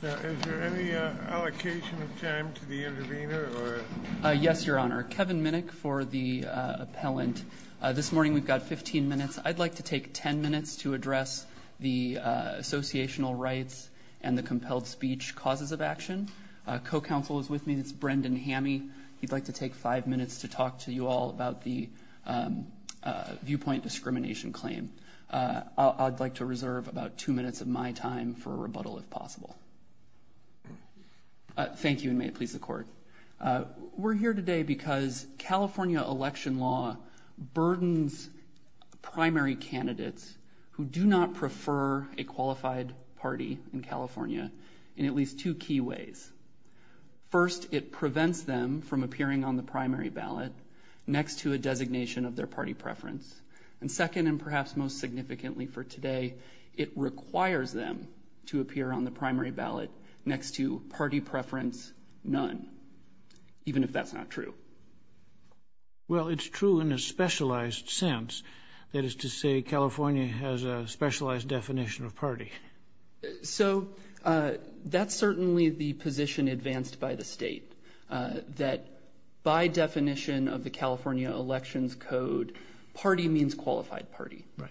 Is there any allocation of time to the intervener? Yes, Your Honor. Kevin Minnick for the appellant. This morning we've got 15 minutes. I'd like to take 10 minutes to address the associational rights and the compelled speech causes of action. Co-counsel is with me. It's Brendan Hamme. He'd like to take five minutes to talk to you all about the viewpoint discrimination claim. I'd like to reserve about two minutes of my time for a rebuttal if possible. Thank you. And may it please the court. We're here today because California election law burdens primary candidates who do not prefer a qualified party in California in at least two key ways. First, it prevents them from appearing on the primary ballot next to a designation of their party preference. And second, and perhaps most significantly for today, it requires them to appear on the primary ballot next to party preference none. Even if that's not true. Well, it's true in a specialized sense. That is to say, California has a specialized definition of party. So that's certainly the position advanced by the state. That by definition of the California elections code, party means qualified party. Right.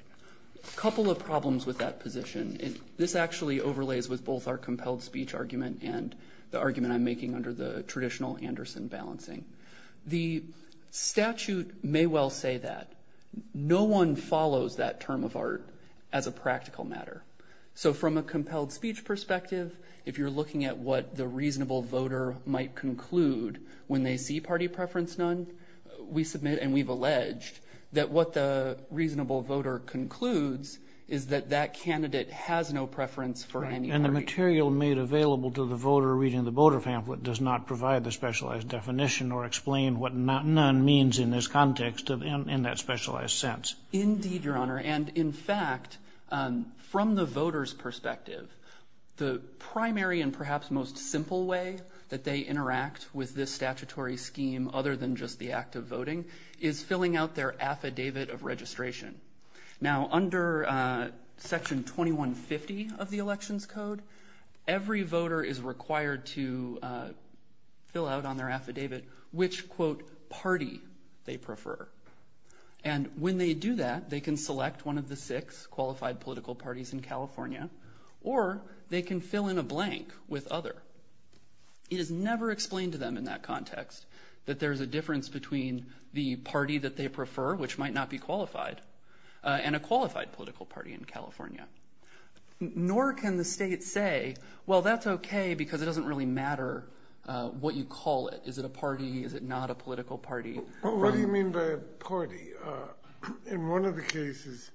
A couple of problems with that position. This actually overlays with both our compelled speech argument and the argument I'm making under the traditional Anderson balancing. The statute may well say that no one follows that term of art as a practical matter. So from a compelled speech perspective, if you're looking at what the reasonable voter might conclude when they see party preference, none. We submit and we've alleged that what the reasonable voter concludes is that that candidate has no preference for. And the material made available to the voter reading the voter pamphlet does not provide the specialized definition or explain what not none means in this context in that specialized sense. Indeed, Your Honor. And in fact, from the voters perspective, the primary and perhaps most simple way that they interact with this statutory scheme other than just the act of voting is filling out their affidavit of registration. Now, under Section 2150 of the elections code, every voter is required to fill out on their affidavit which, quote, party they prefer. And when they do that, they can select one of the six qualified political parties in California or they can fill in a blank with other. It is never explained to them in that context that there is a difference between the party that they prefer, which might not be qualified, and a qualified political party in California. Nor can the state say, well, that's okay because it doesn't really matter what you call it. Is it a party? Is it not a political party? What do you mean by a party? In one of the cases,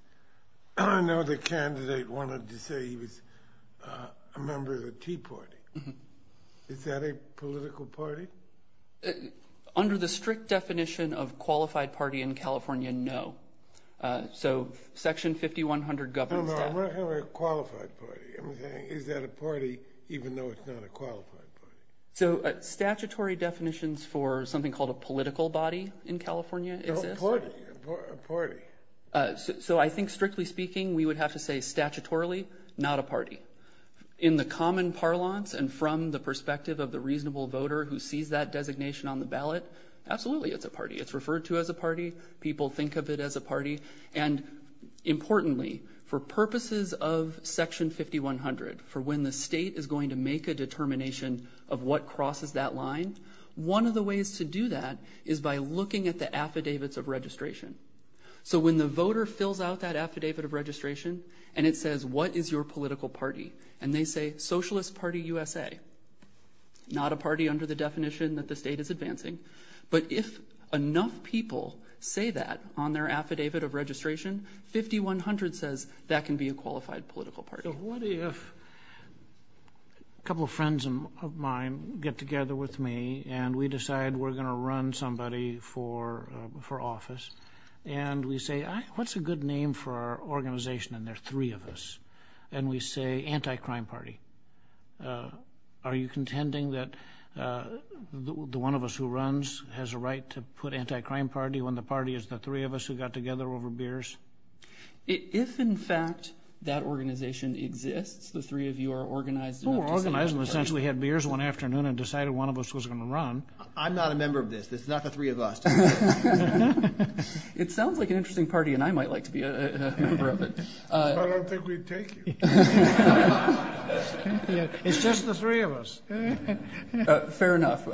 I know the candidate wanted to say he was a member of the Tea Party. Is that a political party? Under the strict definition of qualified party in California, no. So Section 5100 governs that. No, no, I'm not talking about a qualified party. I'm saying is that a party even though it's not a qualified party? So statutory definitions for something called a political body in California exist? A party. So I think strictly speaking, we would have to say statutorily, not a party. In the common parlance and from the perspective of the reasonable voter who sees that designation on the ballot, absolutely it's a party. It's referred to as a party. People think of it as a party. And importantly, for purposes of Section 5100, for when the state is going to make a determination of what crosses that line, one of the ways to do that is by looking at the affidavits of registration. So when the voter fills out that affidavit of registration and it says what is your political party, and they say Socialist Party USA, not a party under the definition that the state is advancing. But if enough people say that on their affidavit of registration, 5100 says that can be a qualified political party. What if a couple of friends of mine get together with me and we decide we're going to run somebody for office, and we say what's a good name for our organization, and there are three of us, and we say Anti-Crime Party. Are you contending that the one of us who runs has a right to put Anti-Crime Party when the party is the three of us who got together over beers? If, in fact, that organization exists, the three of you are organized enough to say Anti-Crime Party. Well, we're organized and essentially had beers one afternoon and decided one of us was going to run. I'm not a member of this. It's not the three of us. It sounds like an interesting party, and I might like to be a member of it. I don't think we'd take you. It's just the three of us. Fair enough.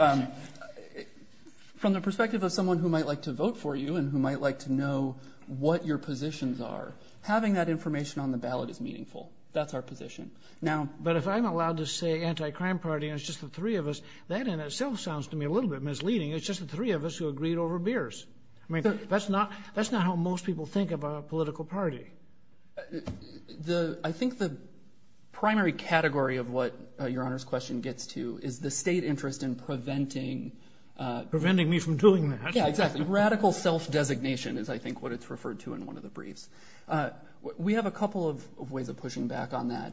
From the perspective of someone who might like to vote for you and who might like to know what your positions are, having that information on the ballot is meaningful. That's our position. But if I'm allowed to say Anti-Crime Party and it's just the three of us, that in itself sounds to me a little bit misleading. It's just the three of us who agreed over beers. That's not how most people think about a political party. I think the primary category of what Your Honor's question gets to is the state interest in preventing. Preventing me from doing that. Yeah, exactly. Radical self-designation is, I think, what it's referred to in one of the briefs. We have a couple of ways of pushing back on that.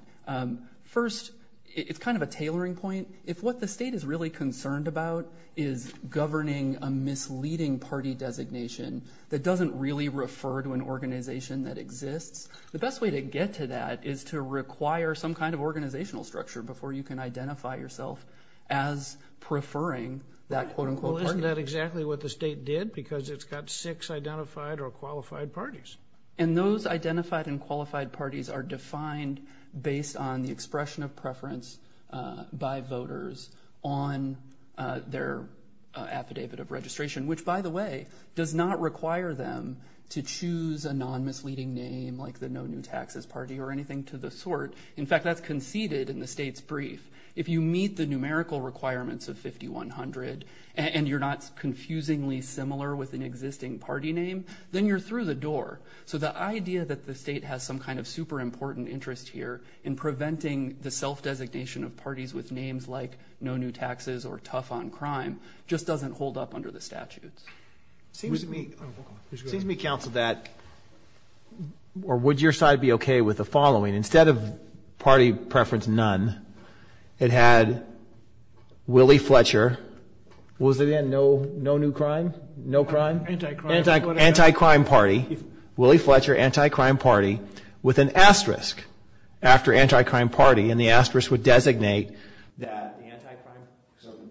First, it's kind of a tailoring point. If what the state is really concerned about is governing a misleading party designation that doesn't really refer to an organization that exists, the best way to get to that is to require some kind of organizational structure before you can identify yourself as preferring that quote-unquote party. Well, isn't that exactly what the state did? Because it's got six identified or qualified parties. And those identified and qualified parties are defined based on the expression of preference by voters on their affidavit of registration. Which, by the way, does not require them to choose a non-misleading name like the No New Taxes Party or anything to the sort. In fact, that's conceded in the state's brief. If you meet the numerical requirements of 5100 and you're not confusingly similar with an existing party name, then you're through the door. So the idea that the state has some kind of super important interest here in preventing the self-designation of parties with names like No New Taxes or Tough on Crime just doesn't hold up under the statutes. Seems to me counsel that, or would your side be okay with the following? Instead of party preference none, it had Willie Fletcher. What was it again? No New Crime? No Crime? Anti-Crime. Anti-Crime Party. Willie Fletcher, Anti-Crime Party with an asterisk after Anti-Crime Party. And the asterisk would designate that the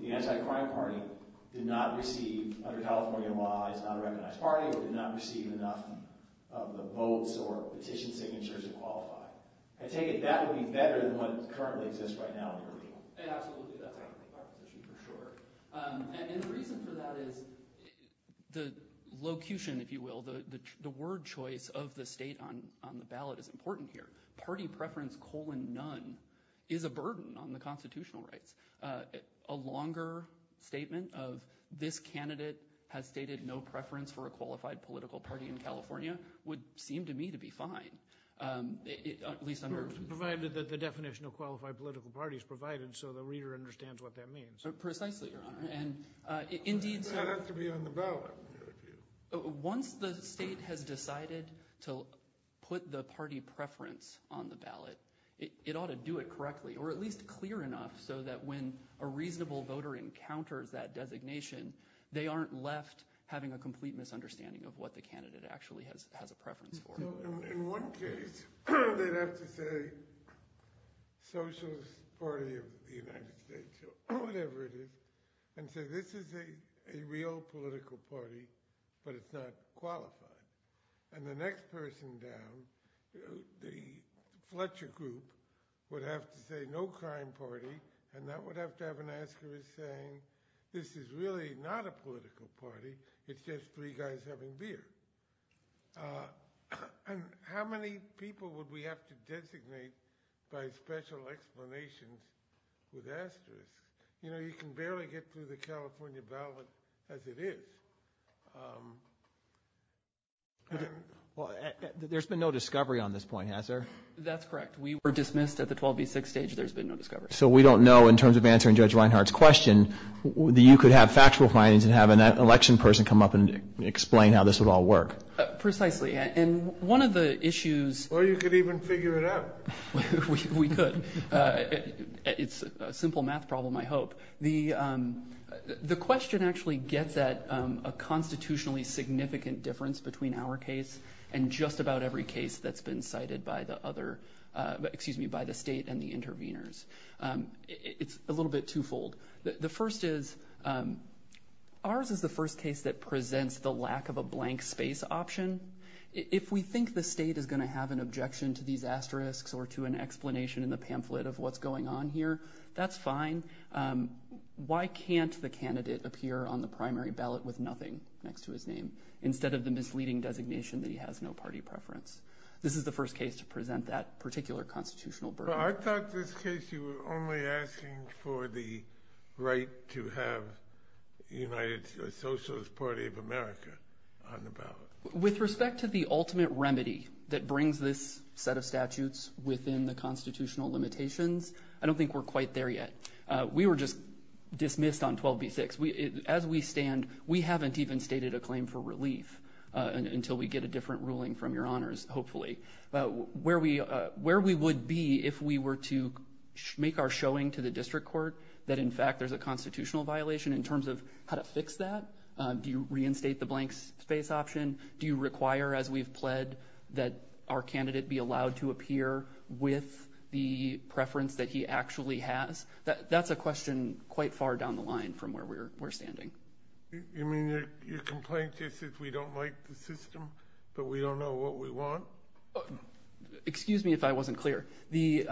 Anti-Crime Party did not receive, under California law, is not a recognized party or did not receive enough of the votes or petition signatures to qualify. I take it that would be better than what currently exists right now in the original. Absolutely. And the reason for that is the locution, if you will, the word choice of the state on the ballot is important here. Party preference colon none is a burden on the constitutional rights. A longer statement of this candidate has stated no preference for a qualified political party in California would seem to me to be fine, at least under – Provided that the definition of qualified political party is provided so the reader understands what that means. Precisely, Your Honor, and indeed – That has to be on the ballot. Once the state has decided to put the party preference on the ballot, it ought to do it correctly or at least clear enough so that when a reasonable voter encounters that designation, they aren't left having a complete misunderstanding of what the candidate actually has a preference for. In one case, they'd have to say Socialist Party of the United States, or whatever it is, and say this is a real political party, but it's not qualified. And the next person down, the Fletcher group, would have to say no crime party, and that would have to have an asterisk saying this is really not a political party, it's just three guys having beer. And how many people would we have to designate by special explanation with asterisks? You know, you can barely get through the California ballot as it is. There's been no discovery on this point, has there? That's correct. We were dismissed at the 12B6 stage. There's been no discovery. So we don't know, in terms of answering Judge Reinhart's question, that you could have factual findings and have an election person come up and explain how this would all work. Precisely. And one of the issues... Or you could even figure it out. We could. It's a simple math problem, I hope. The question actually gets at a constitutionally significant difference between our case and just about every case that's been cited by the state and the interveners. It's a little bit twofold. The first is, ours is the first case that presents the lack of a blank space option. If we think the state is going to have an objection to these asterisks or to an explanation in the pamphlet of what's going on here, that's fine. Why can't the candidate appear on the primary ballot with nothing next to his name, instead of the misleading designation that he has no party preference? This is the first case to present that particular constitutional burden. But I thought this case you were only asking for the right to have the United Socialist Party of America on the ballot. With respect to the ultimate remedy that brings this set of statutes within the constitutional limitations, I don't think we're quite there yet. We were just dismissed on 12b-6. As we stand, we haven't even stated a claim for relief until we get a different ruling from your honors, hopefully. Where we would be if we were to make our showing to the district court that, in fact, there's a constitutional violation in terms of how to fix that? Do you reinstate the blank space option? Do you require, as we've pled, that our candidate be allowed to appear with the preference that he actually has? That's a question quite far down the line from where we're standing. You mean your complaint is that we don't like the system, that we don't know what we want? Excuse me if I wasn't clear. The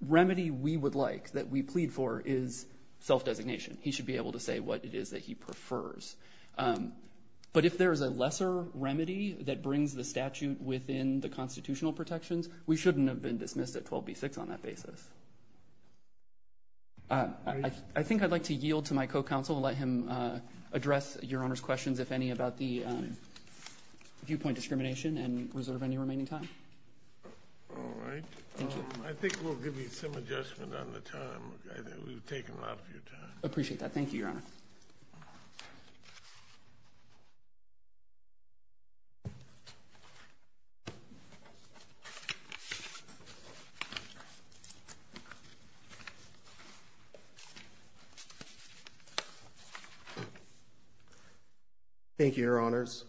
remedy we would like, that we plead for, is self-designation. He should be able to say what it is that he prefers. But if there is a lesser remedy that brings the statute within the constitutional protections, we shouldn't have been dismissed at 12b-6 on that basis. I think I'd like to yield to my co-counsel and let him address your honors' questions, if any, about the viewpoint discrimination and reserve any remaining time. All right. Thank you. I think we'll give you some adjustment on the time. We've taken a lot of your time. Appreciate that. Thank you, your honor. Thank you, your honors.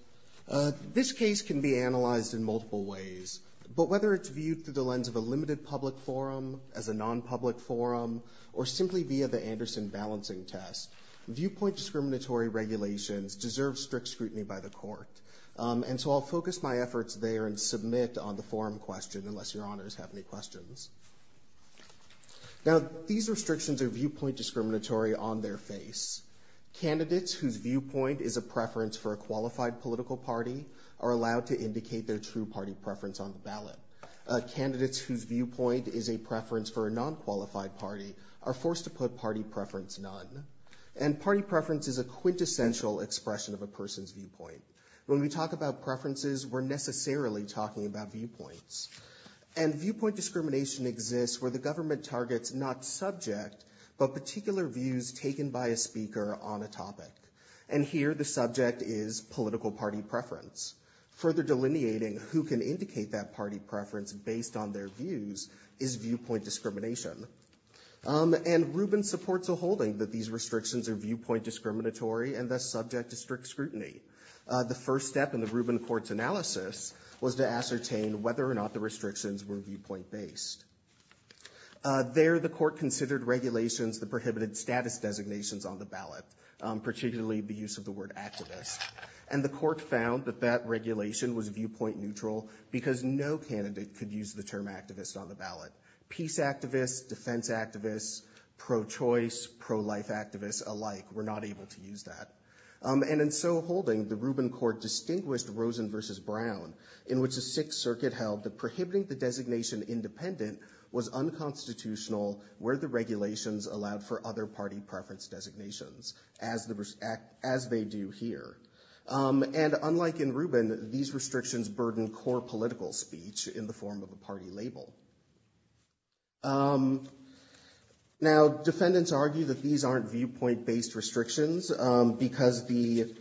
This case can be analyzed in multiple ways. But whether it's viewed through the lens of a limited public forum, as a non-public forum, or simply via the Anderson balancing test, viewpoint discriminatory regulations deserve strict scrutiny by the court. And so I'll focus my efforts there and submit on the forum question, unless your honors have any questions. Now, these restrictions are viewpoint discriminatory on their face. Candidates whose viewpoint is a preference for a qualified political party are allowed to indicate their true party preference on the ballot. Candidates whose viewpoint is a preference for a non-qualified party are forced to put party preference none. And party preference is a quintessential expression of a person's viewpoint. When we talk about preferences, we're necessarily talking about viewpoints. And viewpoint discrimination exists where the government targets not subject, but particular views taken by a speaker on a topic. And here the subject is political party preference. Further delineating who can indicate that party preference based on their views is viewpoint discrimination. And Rubin supports a holding that these restrictions are viewpoint discriminatory and thus subject to strict scrutiny. The first step in the Rubin court's analysis was to ascertain whether or not the restrictions were viewpoint based. There the court considered regulations that prohibited status designations on the ballot, particularly the use of the word activist. And the court found that that regulation was viewpoint neutral because no candidate could use the term activist on the ballot. Peace activists, defense activists, pro-choice, pro-life activists alike were not able to use that. And in so holding, the Rubin court distinguished Rosen versus Brown, in which the Sixth Circuit held that prohibiting the designation independent was unconstitutional where the regulations allowed for other party preference designations, as they do here. And unlike in Rubin, these restrictions burden core political speech in the form of a party label. Now, defendants argue that these aren't viewpoint based restrictions because the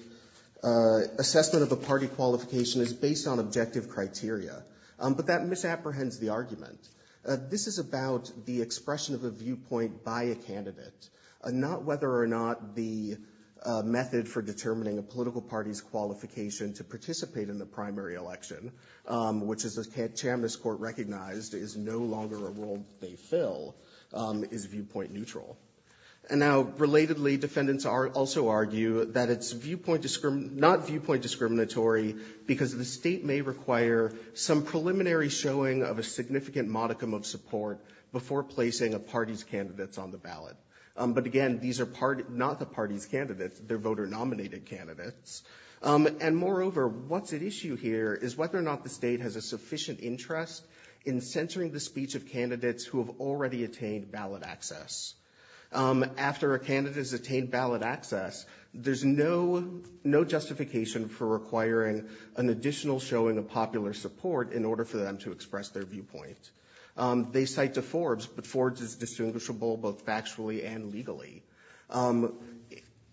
assessment of a party qualification is based on objective criteria. But that misapprehends the argument. This is about the expression of a viewpoint by a candidate, not whether or not the method for determining a political party's qualification to participate in the primary election, which as the Chambliss court recognized, is no longer a role they fill, is viewpoint neutral. And now, relatedly, defendants also argue that it's not viewpoint discriminatory because the state may require some preliminary showing of a significant modicum of support before placing a party's candidates on the ballot. But again, these are not the party's candidates, they're voter nominated candidates. And moreover, what's at issue here is whether or not the state has a sufficient interest in censoring the speech of candidates who have already attained ballot access. After a candidate has attained ballot access, there's no justification for requiring an additional showing of popular support in order for them to express their viewpoint. They cite to Forbes, but Forbes is distinguishable both factually and legally.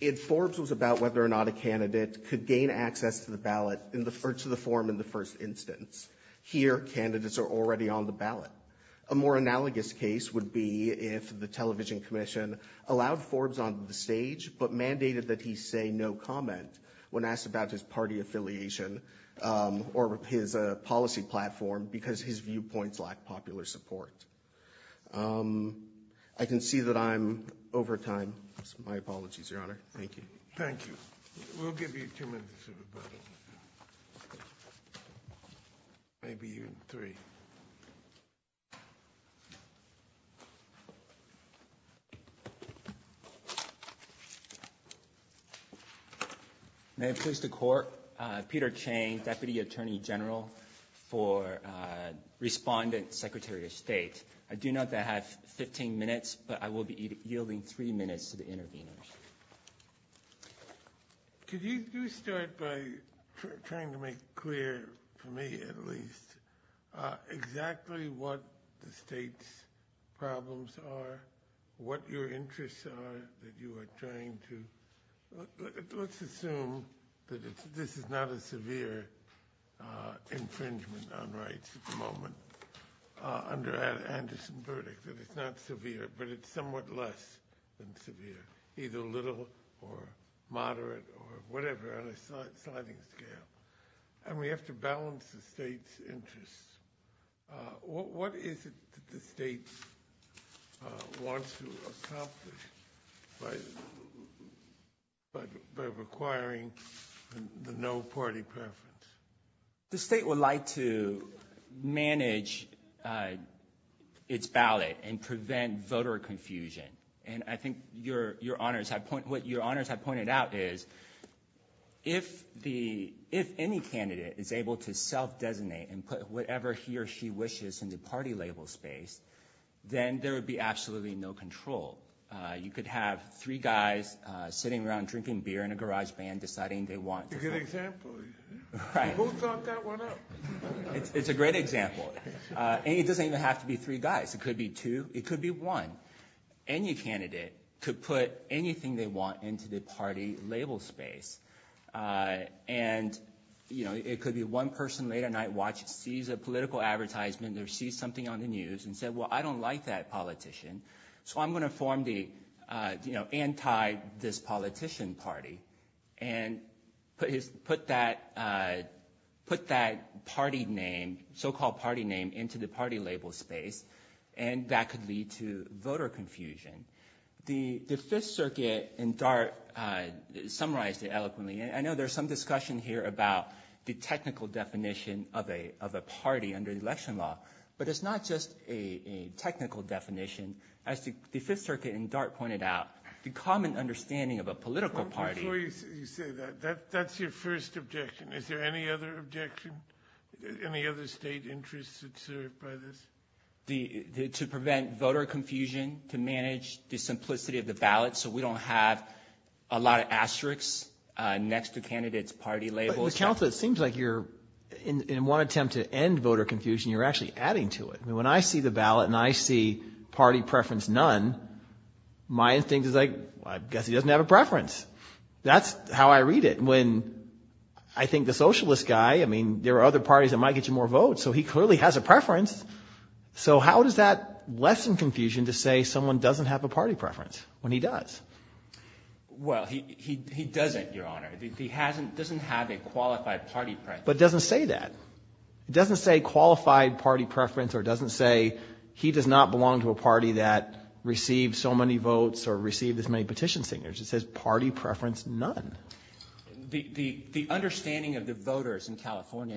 If Forbes was about whether or not a candidate could gain access to the form in the first instance, here, candidates are already on the ballot. A more analogous case would be if the television commission allowed Forbes on the stage, but mandated that he say no comment when asked about his party affiliation or his policy platform because his viewpoints lack popular support. I can see that I'm over time. My apologies, Your Honor. Thank you. Thank you. We'll give you two minutes. Maybe even three. Thank you. May it please the Court. Peter Chang, Deputy Attorney General for Respondent Secretary of State. I do not have 15 minutes, but I will be yielding three minutes to the interveners. Could you start by trying to make clear, for me at least, exactly what the state's problems are, what your interests are that you are trying to – let's assume that this is not a severe infringement on rights at the moment under Anderson's verdict, that it's not severe, but it's somewhat less than severe, either little or moderate or whatever on a sliding scale, and we have to balance the state's interests. What is it that the state wants to accomplish by requiring the no party preference? The state would like to manage its ballot and prevent voter confusion, and I think what Your Honors have pointed out is if any candidate is able to self-designate and put whatever he or she wishes in the party label space, then there would be absolutely no control. You could have three guys sitting around drinking beer in a garage band deciding they want to – That's a good example. Who thought that one up? It's a great example, and it doesn't even have to be three guys. It could be two. It could be one. Any candidate could put anything they want into the party label space, and it could be one person late at night sees a political advertisement or sees something on the news and says, well, I don't like that politician, so I'm going to form the anti-this politician party and put that party name, so-called party name, into the party label space, and that could lead to voter confusion. The Fifth Circuit in DART summarized it eloquently. I know there's some discussion here about the technical definition of a party under election law, but it's not just a technical definition. As the Fifth Circuit in DART pointed out, the common understanding of a political party – Before you say that, that's your first objection. Is there any other objection, any other state interest observed by this? To prevent voter confusion, to manage the simplicity of the ballot so we don't have a lot of asterisks next to candidates' party labels. But, Counsel, it seems like you're, in one attempt to end voter confusion, you're actually adding to it. I mean, when I see the ballot and I see party preference none, my instinct is like, well, I guess he doesn't have a preference. That's how I read it. When I think the socialist guy, I mean, there are other parties that might get you more votes, so he clearly has a preference. So how does that lessen confusion to say someone doesn't have a party preference when he does? Well, he doesn't, Your Honor. He doesn't have a qualified party preference. But it doesn't say that. It doesn't say qualified party preference or it doesn't say he does not belong to a party that received so many votes or received as many petition signatures. It says party preference none. The understanding of the voters in California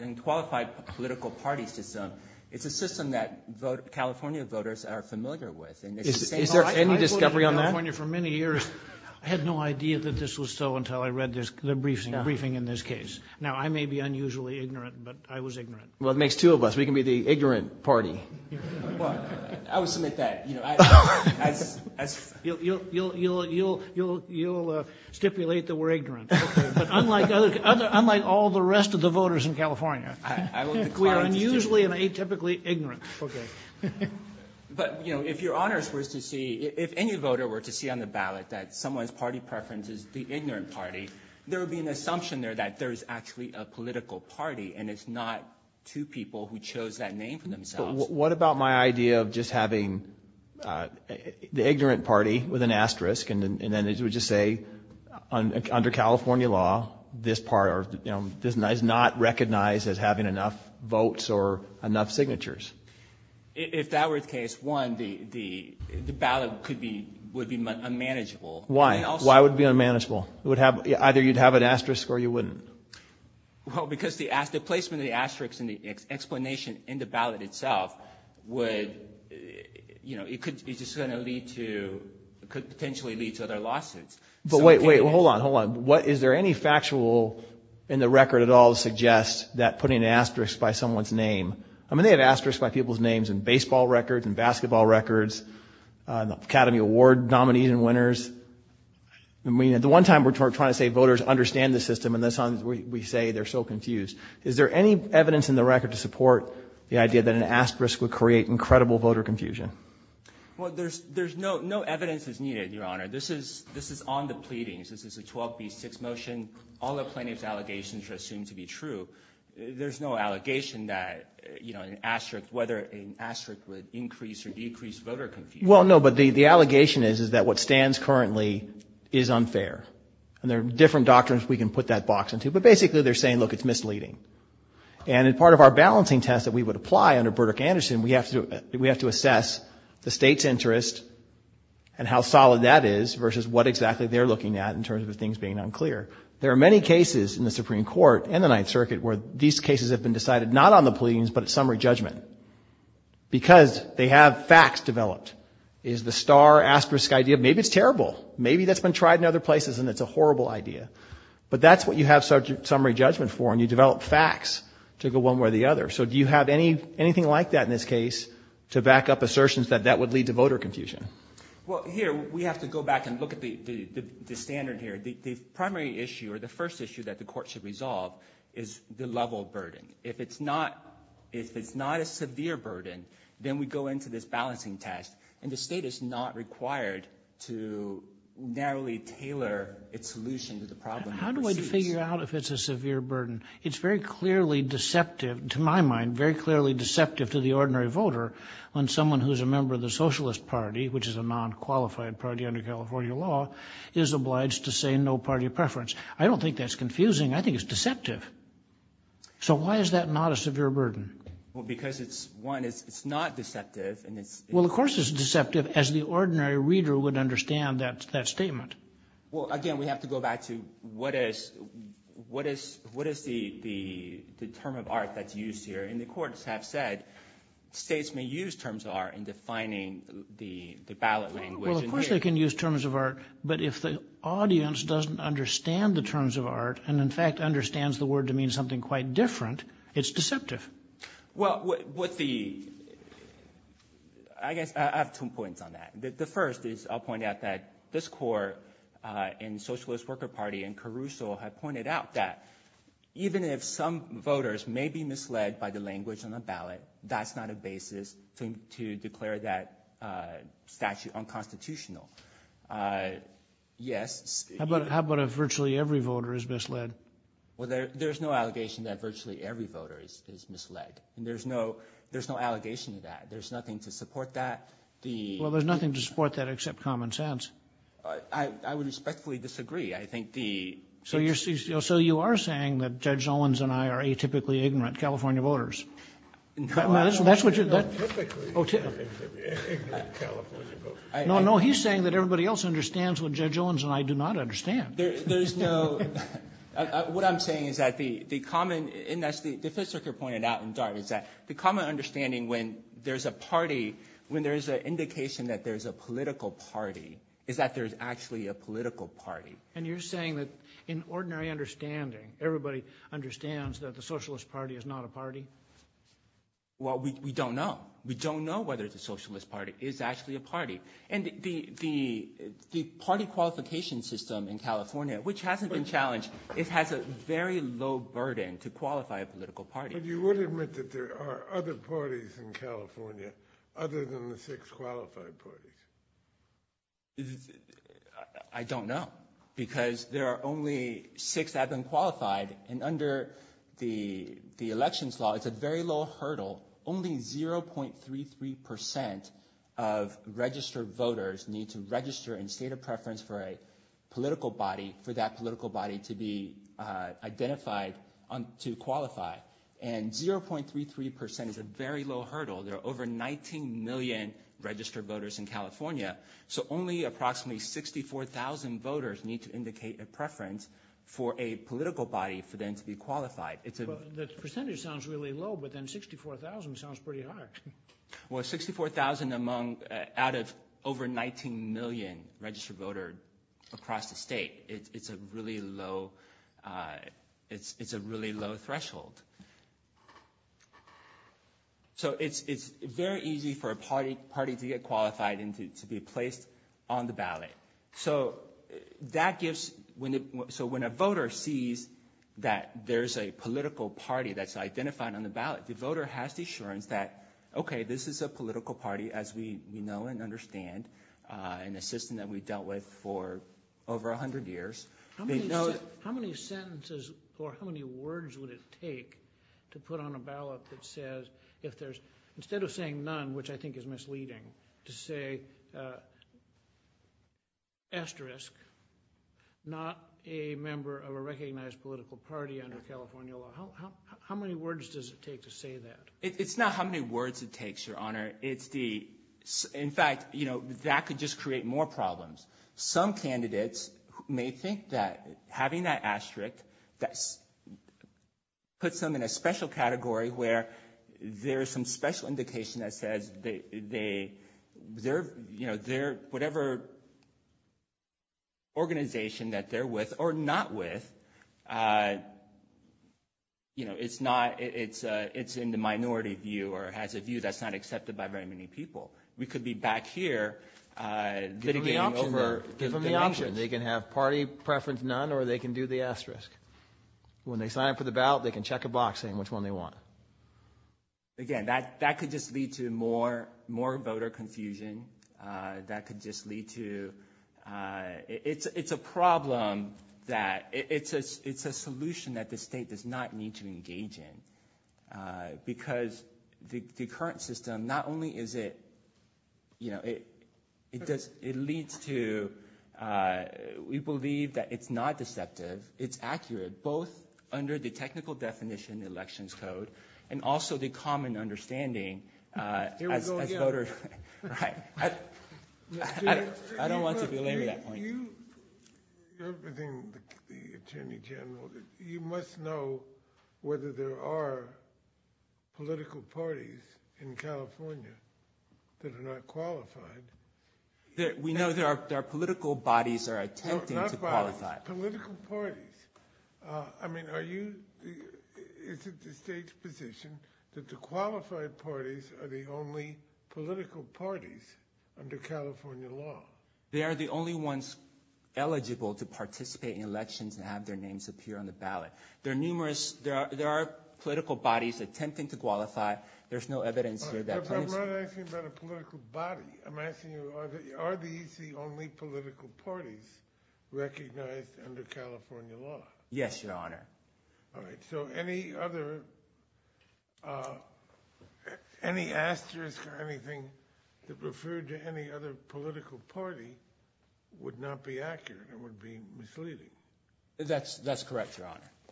and qualified political party system, it's a system that California voters are familiar with. Is there any discovery on that? I've been in California for many years. I had no idea that this was so until I read the briefing in this case. Now, I may be unusually ignorant, but I was ignorant. Well, it makes two of us. We can be the ignorant party. I would submit that. You'll stipulate that we're ignorant. But unlike all the rest of the voters in California, we are unusually and atypically ignorant. But, you know, if Your Honor were to see, if any voter were to see on the ballot that someone's party preference is the ignorant party, there would be an assumption there that there is actually a political party and it's not two people who chose that name for themselves. What about my idea of just having the ignorant party with an asterisk and then it would just say under California law, this part is not recognized as having enough votes or enough signatures? If that were the case, one, the ballot would be unmanageable. Why? Why would it be unmanageable? Either you'd have an asterisk or you wouldn't. Well, because the placement of the asterisk and the explanation in the ballot itself would, you know, it could potentially lead to other lawsuits. But wait, wait, hold on, hold on. Is there any factual in the record at all to suggest that putting an asterisk by someone's name? I mean, they have asterisks by people's names in baseball records, in basketball records, in the Academy Award nominees and winners. I mean, at the one time we're trying to say voters understand the system and this time we say they're so confused. Is there any evidence in the record to support the idea that an asterisk would create incredible voter confusion? Well, there's no evidence that's needed, Your Honor. This is on the pleadings. This is a 12B6 motion. All the plaintiff's allegations are assumed to be true. There's no allegation that, you know, an asterisk, whether an asterisk would increase or decrease voter confusion. Well, no, but the allegation is that what stands currently is unfair. And there are different doctrines we can put that box into. But basically they're saying, look, it's misleading. And in part of our balancing test that we would apply under Burdick-Anderson, we have to assess the state's interest and how solid that is versus what exactly they're looking at in terms of things being unclear. There are many cases in the Supreme Court and the Ninth Circuit where these cases have been decided not on the pleadings but at summary judgment because they have facts developed. Is the star asterisk idea? Maybe it's terrible. Maybe that's been tried in other places and it's a horrible idea. But that's what you have summary judgment for and you develop facts to go one way or the other. So do you have anything like that in this case to back up assertions that that would lead to voter confusion? Well, here we have to go back and look at the standard here. The primary issue or the first issue that the court should resolve is the level of burden. If it's not a severe burden, then we go into this balancing test and the state is not required to narrowly tailor its solution to the problem. How do I figure out if it's a severe burden? It's very clearly deceptive to my mind, very clearly deceptive to the ordinary voter when someone who is a member of the Socialist Party, which is a non-qualified party under California law, is obliged to say no party preference. I don't think that's confusing. I think it's deceptive. So why is that not a severe burden? Well, because, one, it's not deceptive. Well, of course it's deceptive as the ordinary reader would understand that statement. Well, again, we have to go back to what is the term of art that's used here. And the courts have said states may use terms of art in defining the ballot language. Well, of course they can use terms of art, but if the audience doesn't understand the terms of art and, in fact, understands the word to mean something quite different, it's deceptive. Well, with the – I guess I have two points on that. The first is I'll point out that this court in the Socialist Worker Party in Caruso have pointed out that even if some voters may be misled by the language on the ballot, that's not a basis to declare that statute unconstitutional. Yes. How about if virtually every voter is misled? Well, there's no allegation that virtually every voter is misled. There's no allegation to that. There's nothing to support that. Well, there's nothing to support that except common sense. I would respectfully disagree. I think the – So you are saying that Judge Owens and I are atypically ignorant California voters. No, I'm not atypically ignorant California voters. No, no, he's saying that everybody else understands what Judge Owens and I do not understand. There's no – what I'm saying is that the common – and as the Fifth Circuit pointed out in Dart, is that the common understanding when there's a party, when there's an indication that there's a political party, is that there's actually a political party. And you're saying that in ordinary understanding, everybody understands that the Socialist Party is not a party? Well, we don't know. We don't know whether the Socialist Party is actually a party. And the party qualification system in California, which hasn't been challenged, it has a very low burden to qualify a political party. But you would admit that there are other parties in California other than the six qualified parties? I don't know because there are only six that have been qualified. And under the elections law, it's a very low hurdle. Only 0.33% of registered voters need to register in state of preference for a political body, for that political body to be identified to qualify. And 0.33% is a very low hurdle. There are over 19 million registered voters in California. So only approximately 64,000 voters need to indicate a preference for a political body for them to be qualified. The percentage sounds really low, but then 64,000 sounds pretty high. Well, 64,000 out of over 19 million registered voters across the state. It's a really low threshold. So it's very easy for a party to get qualified and to be placed on the ballot. So when a voter sees that there's a political party that's identified on the ballot, the voter has the assurance that, okay, this is a political party, as we know and understand, and a system that we've dealt with for over 100 years. How many sentences or how many words would it take to put on a ballot that says, instead of saying none, which I think is misleading, to say asterisk, not a member of a recognized political party under California law. How many words does it take to say that? It's not how many words it takes, Your Honor. In fact, that could just create more problems. Some candidates may think that having that asterisk puts them in a special category where there is some special indication that says that whatever organization that they're with or not with, it's in the minority view or has a view that's not accepted by very many people. We could be back here litigating over dimensions. They can have party preference none or they can do the asterisk. When they sign up for the ballot, they can check a box saying which one they want. Again, that could just lead to more voter confusion. That could just lead to – it's a problem that – it's a solution that the state does not need to engage in because the current system, not only is it – it leads to – we believe that it's not deceptive. It's accurate both under the technical definition, the elections code, and also the common understanding as voters. I don't want to belabor that point. You must know whether there are political parties in California that are not qualified. We know there are political bodies that are attempting to qualify. Political parties. I mean are you – is it the state's position that the qualified parties are the only political parties under California law? They are the only ones eligible to participate in elections and have their names appear on the ballot. There are numerous – there are political bodies attempting to qualify. There's no evidence here that – I'm not asking about a political body. I'm asking you are these the only political parties recognized under California law? Yes, Your Honor. All right. So any other – any asterisk or anything that referred to any other political party would not be accurate. It would be misleading. That's correct, Your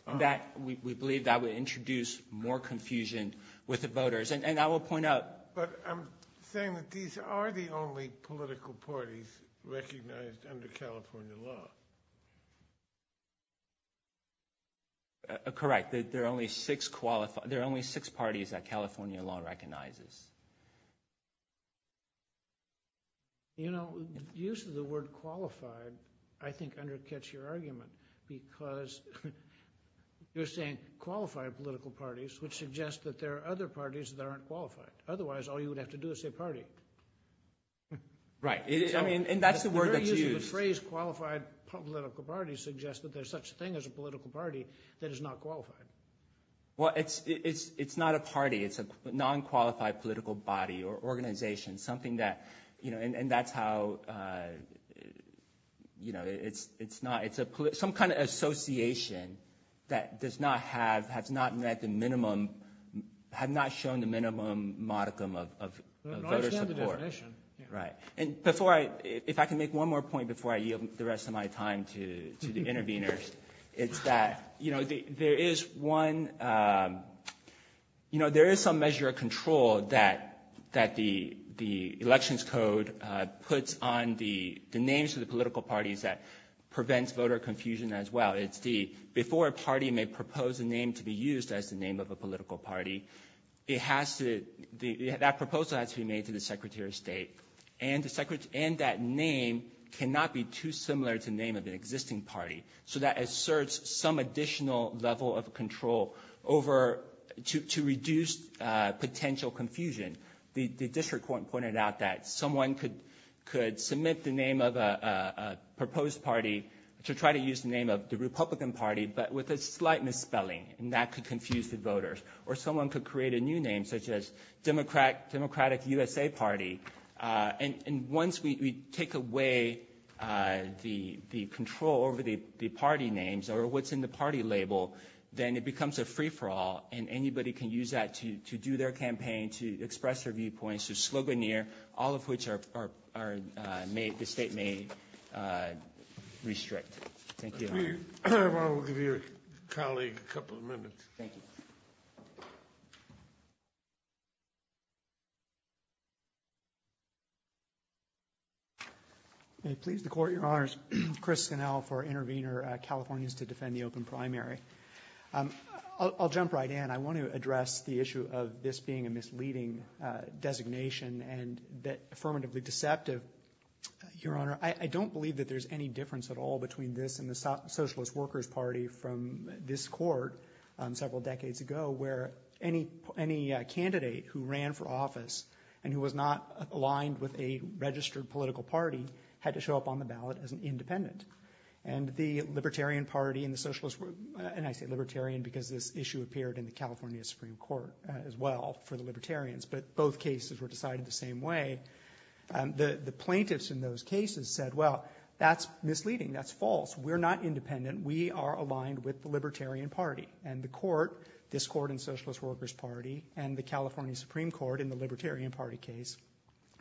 Honor. We believe that would introduce more confusion with the voters, and I will point out – but I'm saying that these are the only political parties recognized under California law. Correct. There are only six parties that California law recognizes. Use of the word qualified I think undercuts your argument because you're saying qualified political parties, which suggests that there are other parties that aren't qualified. Otherwise, all you would have to do is say party. Right, and that's the word that's used. The very use of the phrase qualified political parties suggests that there's such a thing as a political party that is not qualified. Well, it's not a party. It's a non-qualified political body or organization, something that – and that's how – it's not – some kind of association that does not have – has not met the minimum – have not shown the minimum modicum of voter support. I don't understand the definition. Right. And before I – if I can make one more point before I yield the rest of my time to the interveners, it's that there is one – there is some measure of control that the elections code puts on the names of the political parties that prevents voter confusion as well. It's the – before a party may propose a name to be used as the name of a political party, it has to – that proposal has to be made to the Secretary of State. And the – and that name cannot be too similar to the name of an existing party. So that asserts some additional level of control over – to reduce potential confusion. The district court pointed out that someone could submit the name of a proposed party to try to use the name of the Republican Party but with a slight misspelling, and that could confuse the voters. Or someone could create a new name such as Democratic USA Party. And once we take away the control over the party names or what's in the party label, then it becomes a free-for-all and anybody can use that to do their campaign, to express their viewpoints, to sloganeer, all of which are – the state may restrict. Thank you. I will give your colleague a couple of minutes. Thank you. May it please the Court, Your Honors. Chris Connell for Intervenor Californians to Defend the Open Primary. I'll jump right in. I want to address the issue of this being a misleading designation and that – affirmatively deceptive, Your Honor. I don't believe that there's any difference at all between this and the Socialist Workers Party from this court several decades ago where any candidate who ran for office and who was not aligned with a registered political party had to show up on the ballot as an independent. And the Libertarian Party and the Socialist – and I say Libertarian because this issue appeared in the California Supreme Court as well for the Libertarians, but both cases were decided the same way. The plaintiffs in those cases said, well, that's misleading. That's false. We're not independent. We are aligned with the Libertarian Party. And the court, this court in Socialist Workers Party, and the California Supreme Court in the Libertarian Party case,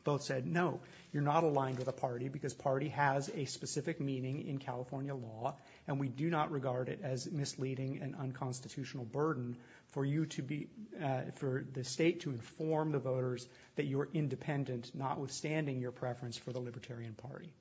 both said, no, you're not aligned with a party because party has a specific meaning in California law and we do not regard it as misleading and unconstitutional burden for you to be – for the state to inform the voters that you are independent, notwithstanding your preference for the Libertarian Party.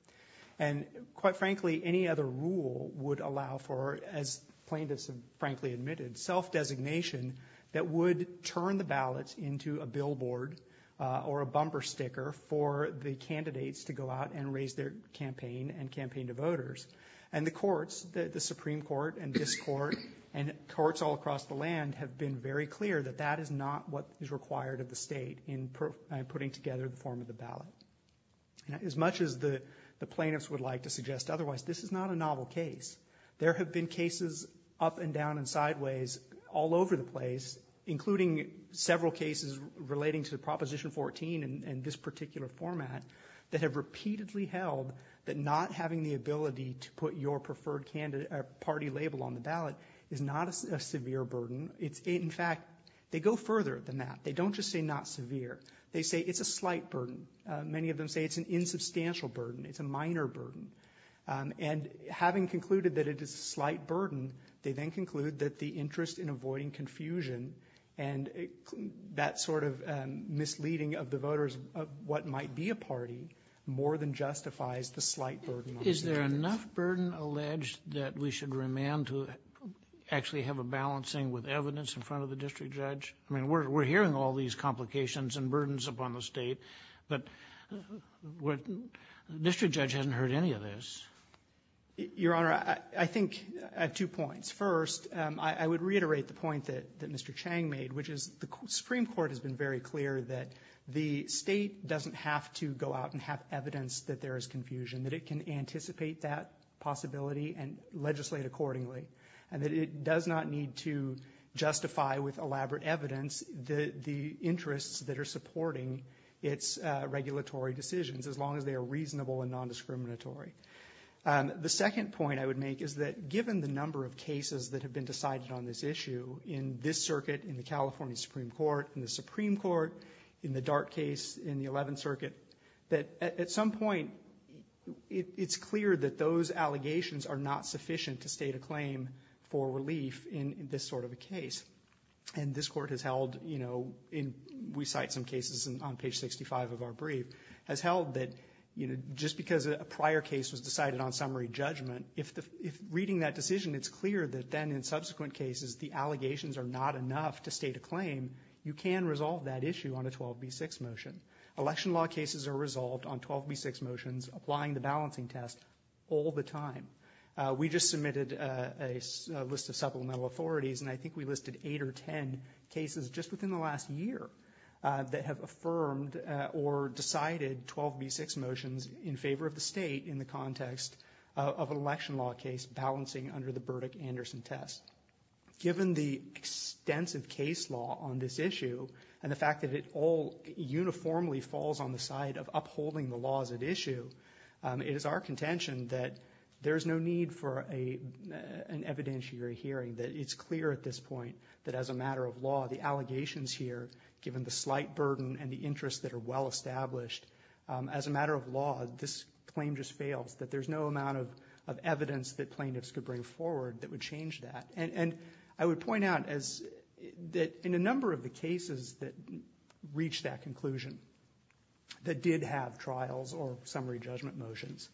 And quite frankly, any other rule would allow for, as plaintiffs have frankly admitted, self-designation that would turn the ballots into a billboard or a bumper sticker for the candidates to go out and raise their campaign and campaign to voters. And the courts, the Supreme Court and this court and courts all across the land, have been very clear that that is not what is required of the state in putting together the form of the ballot. As much as the plaintiffs would like to suggest otherwise, this is not a novel case. There have been cases up and down and sideways all over the place, including several cases relating to Proposition 14 and this particular format, that have repeatedly held that not having the ability to put your preferred party label on the ballot is not a severe burden. In fact, they go further than that. They don't just say not severe. They say it's a slight burden. Many of them say it's an insubstantial burden. It's a minor burden. And having concluded that it is a slight burden, they then conclude that the interest in avoiding confusion and that sort of misleading of the voters of what might be a party more than justifies the slight burden on the candidates. Is there enough burden alleged that we should remand to actually have a balancing with evidence in front of the district judge? I mean, we're hearing all these complications and burdens upon the State, but district judge hasn't heard any of this. Your Honor, I think at two points. First, I would reiterate the point that Mr. Chang made, which is the Supreme Court has been very clear that the State doesn't have to go out and have evidence that there is confusion, that it can anticipate that possibility and legislate accordingly, and that it does not need to justify with elaborate evidence the interests that are supporting its regulatory decisions, as long as they are reasonable and nondiscriminatory. The second point I would make is that given the number of cases that have been decided on this issue in this circuit, in the California Supreme Court, in the Supreme Court, in the Dart case, in the Eleventh Circuit, that at some point it's clear that those allegations are not sufficient to state a claim for relief in this sort of a case. And this Court has held, you know, we cite some cases on page 65 of our brief, has held that just because a prior case was decided on summary judgment, if reading that decision it's clear that then in subsequent cases the allegations are not enough to state a claim, you can resolve that issue on a 12B6 motion. Election law cases are resolved on 12B6 motions applying the balancing test all the time. We just submitted a list of supplemental authorities and I think we listed eight or ten cases just within the last year that have affirmed or decided 12B6 motions in favor of the State in the context of an election law case balancing under the Burdick-Anderson test. Given the extensive case law on this issue and the fact that it all uniformly falls on the side of upholding the laws at issue, it is our contention that there is no need for an evidentiary hearing, that it's clear at this point that as a matter of law the allegations here, given the slight burden and the interests that are well established, that there's no amount of evidence that plaintiffs could bring forward that would change that. I would point out that in a number of the cases that reached that conclusion, that did have trials or summary judgment motions,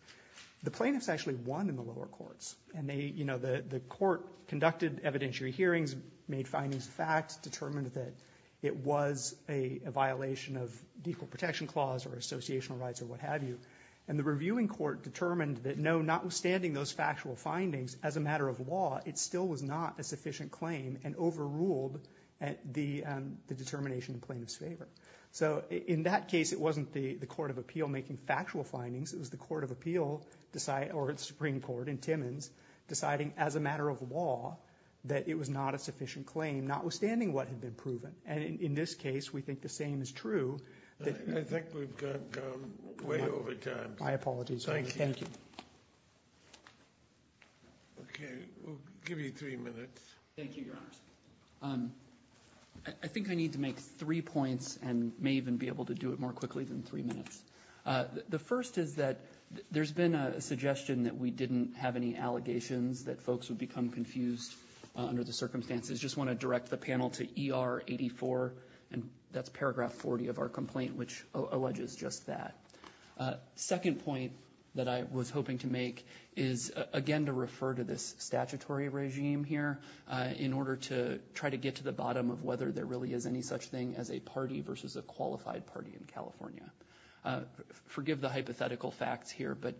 the plaintiffs actually won in the lower courts. The court conducted evidentiary hearings, made findings of fact, determined that it was a violation of the Equal Protection Clause or associational rights or what have you. And the reviewing court determined that no, notwithstanding those factual findings, as a matter of law it still was not a sufficient claim and overruled the determination in plaintiff's favor. So in that case it wasn't the Court of Appeal making factual findings. It was the Court of Appeal or the Supreme Court in Timmins deciding as a matter of law that it was not a sufficient claim, notwithstanding what had been proven. And in this case we think the same is true. I think we've gone way over time. My apologies. Thank you. Okay, we'll give you three minutes. Thank you, Your Honors. I think I need to make three points and may even be able to do it more quickly than three minutes. The first is that there's been a suggestion that we didn't have any allegations, that folks would become confused under the circumstances. I just want to direct the panel to ER 84, and that's Paragraph 40 of our complaint, which alleges just that. Second point that I was hoping to make is, again, to refer to this statutory regime here in order to try to get to the bottom of whether there really is any such thing as a party versus a qualified party in California. Forgive the hypothetical facts here, but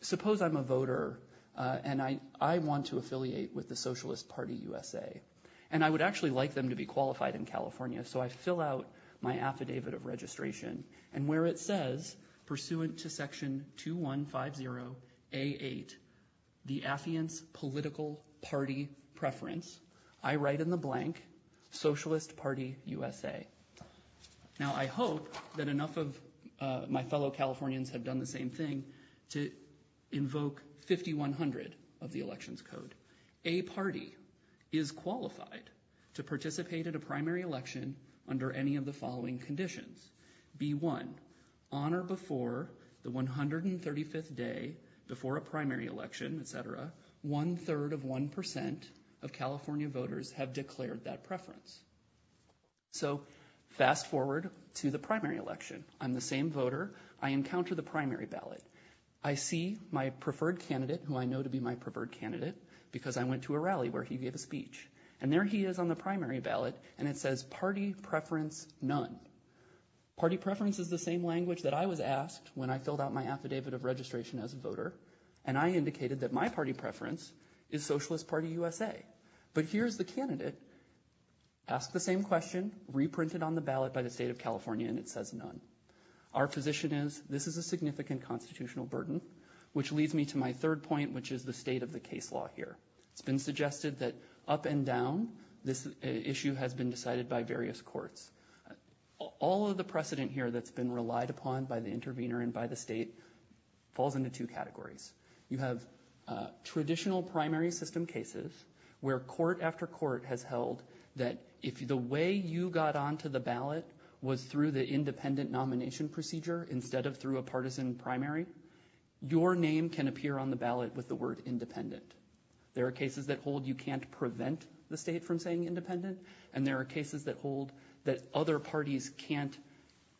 suppose I'm a voter and I want to affiliate with the Socialist Party USA, and I would actually like them to be qualified in California, so I fill out my affidavit of registration, and where it says, pursuant to Section 2150A8, the affiant's political party preference, I write in the blank, Socialist Party USA. Now, I hope that enough of my fellow Californians have done the same thing to invoke 5100 of the Elections Code. A party is qualified to participate in a primary election under any of the following conditions. B1, on or before the 135th day, before a primary election, etc., one-third of 1% of California voters have declared that preference. So, fast forward to the primary election. I'm the same voter. I encounter the primary ballot. I see my preferred candidate, who I know to be my preferred candidate, because I went to a rally where he gave a speech. And there he is on the primary ballot, and it says, party preference none. Party preference is the same language that I was asked when I filled out my affidavit of registration as a voter, and I indicated that my party preference is Socialist Party USA. But here's the candidate. Asked the same question, reprinted on the ballot by the state of California, and it says none. Our position is, this is a significant constitutional burden, which leads me to my third point, which is the state of the case law here. It's been suggested that, up and down, this issue has been decided by various courts. All of the precedent here that's been relied upon by the intervener and by the state falls into two categories. You have traditional primary system cases where court after court has held that if the way you got onto the ballot was through the independent nomination procedure instead of through a partisan primary, your name can appear on the ballot with the word independent. There are cases that hold you can't prevent the state from saying independent, and there are cases that hold that other parties can't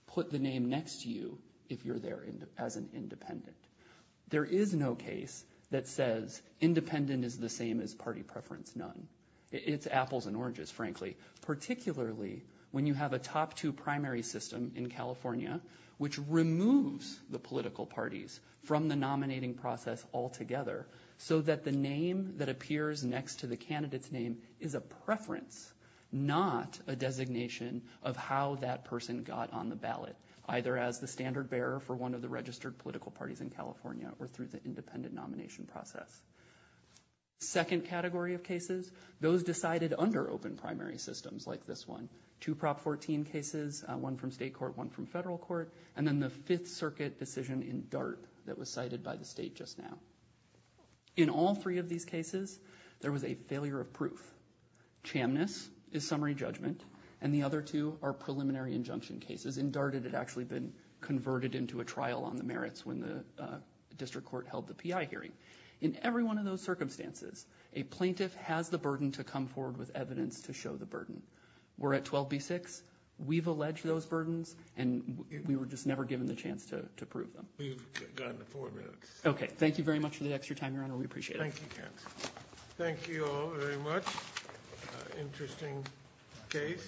put the name next to you if you're there as an independent. There is no case that says independent is the same as party preference, none. It's apples and oranges, frankly, particularly when you have a top two primary system in California which removes the political parties from the nominating process altogether so that the name that appears next to the candidate's name is a preference, not a designation of how that person got on the ballot, either as the standard bearer for one of the registered political parties in California or through the independent nomination process. Second category of cases, those decided under open primary systems like this one, two Prop 14 cases, one from state court, one from federal court, and then the Fifth Circuit decision in DART that was cited by the state just now. In all three of these cases, there was a failure of proof. Chamness is summary judgment, and the other two are preliminary injunction cases. In DART it had actually been converted into a trial on the merits when the district court held the PI hearing. In every one of those circumstances, a plaintiff has the burden to come forward with evidence to show the burden. We're at 12B6. We've alleged those burdens, and we were just never given the chance to prove them. We've got four minutes. Okay. Thank you very much for the extra time, Your Honor. We appreciate it. Thank you, counsel. Thank you all very much. Interesting case.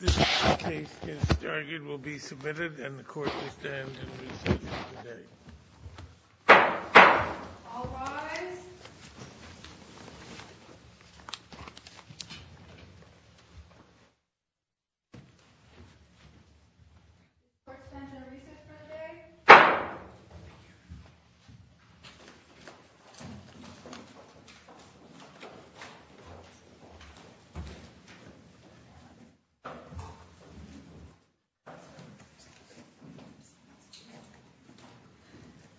This case is argued will be submitted, and the court will stand in recess for the day. All rise. Court is in recess for the day.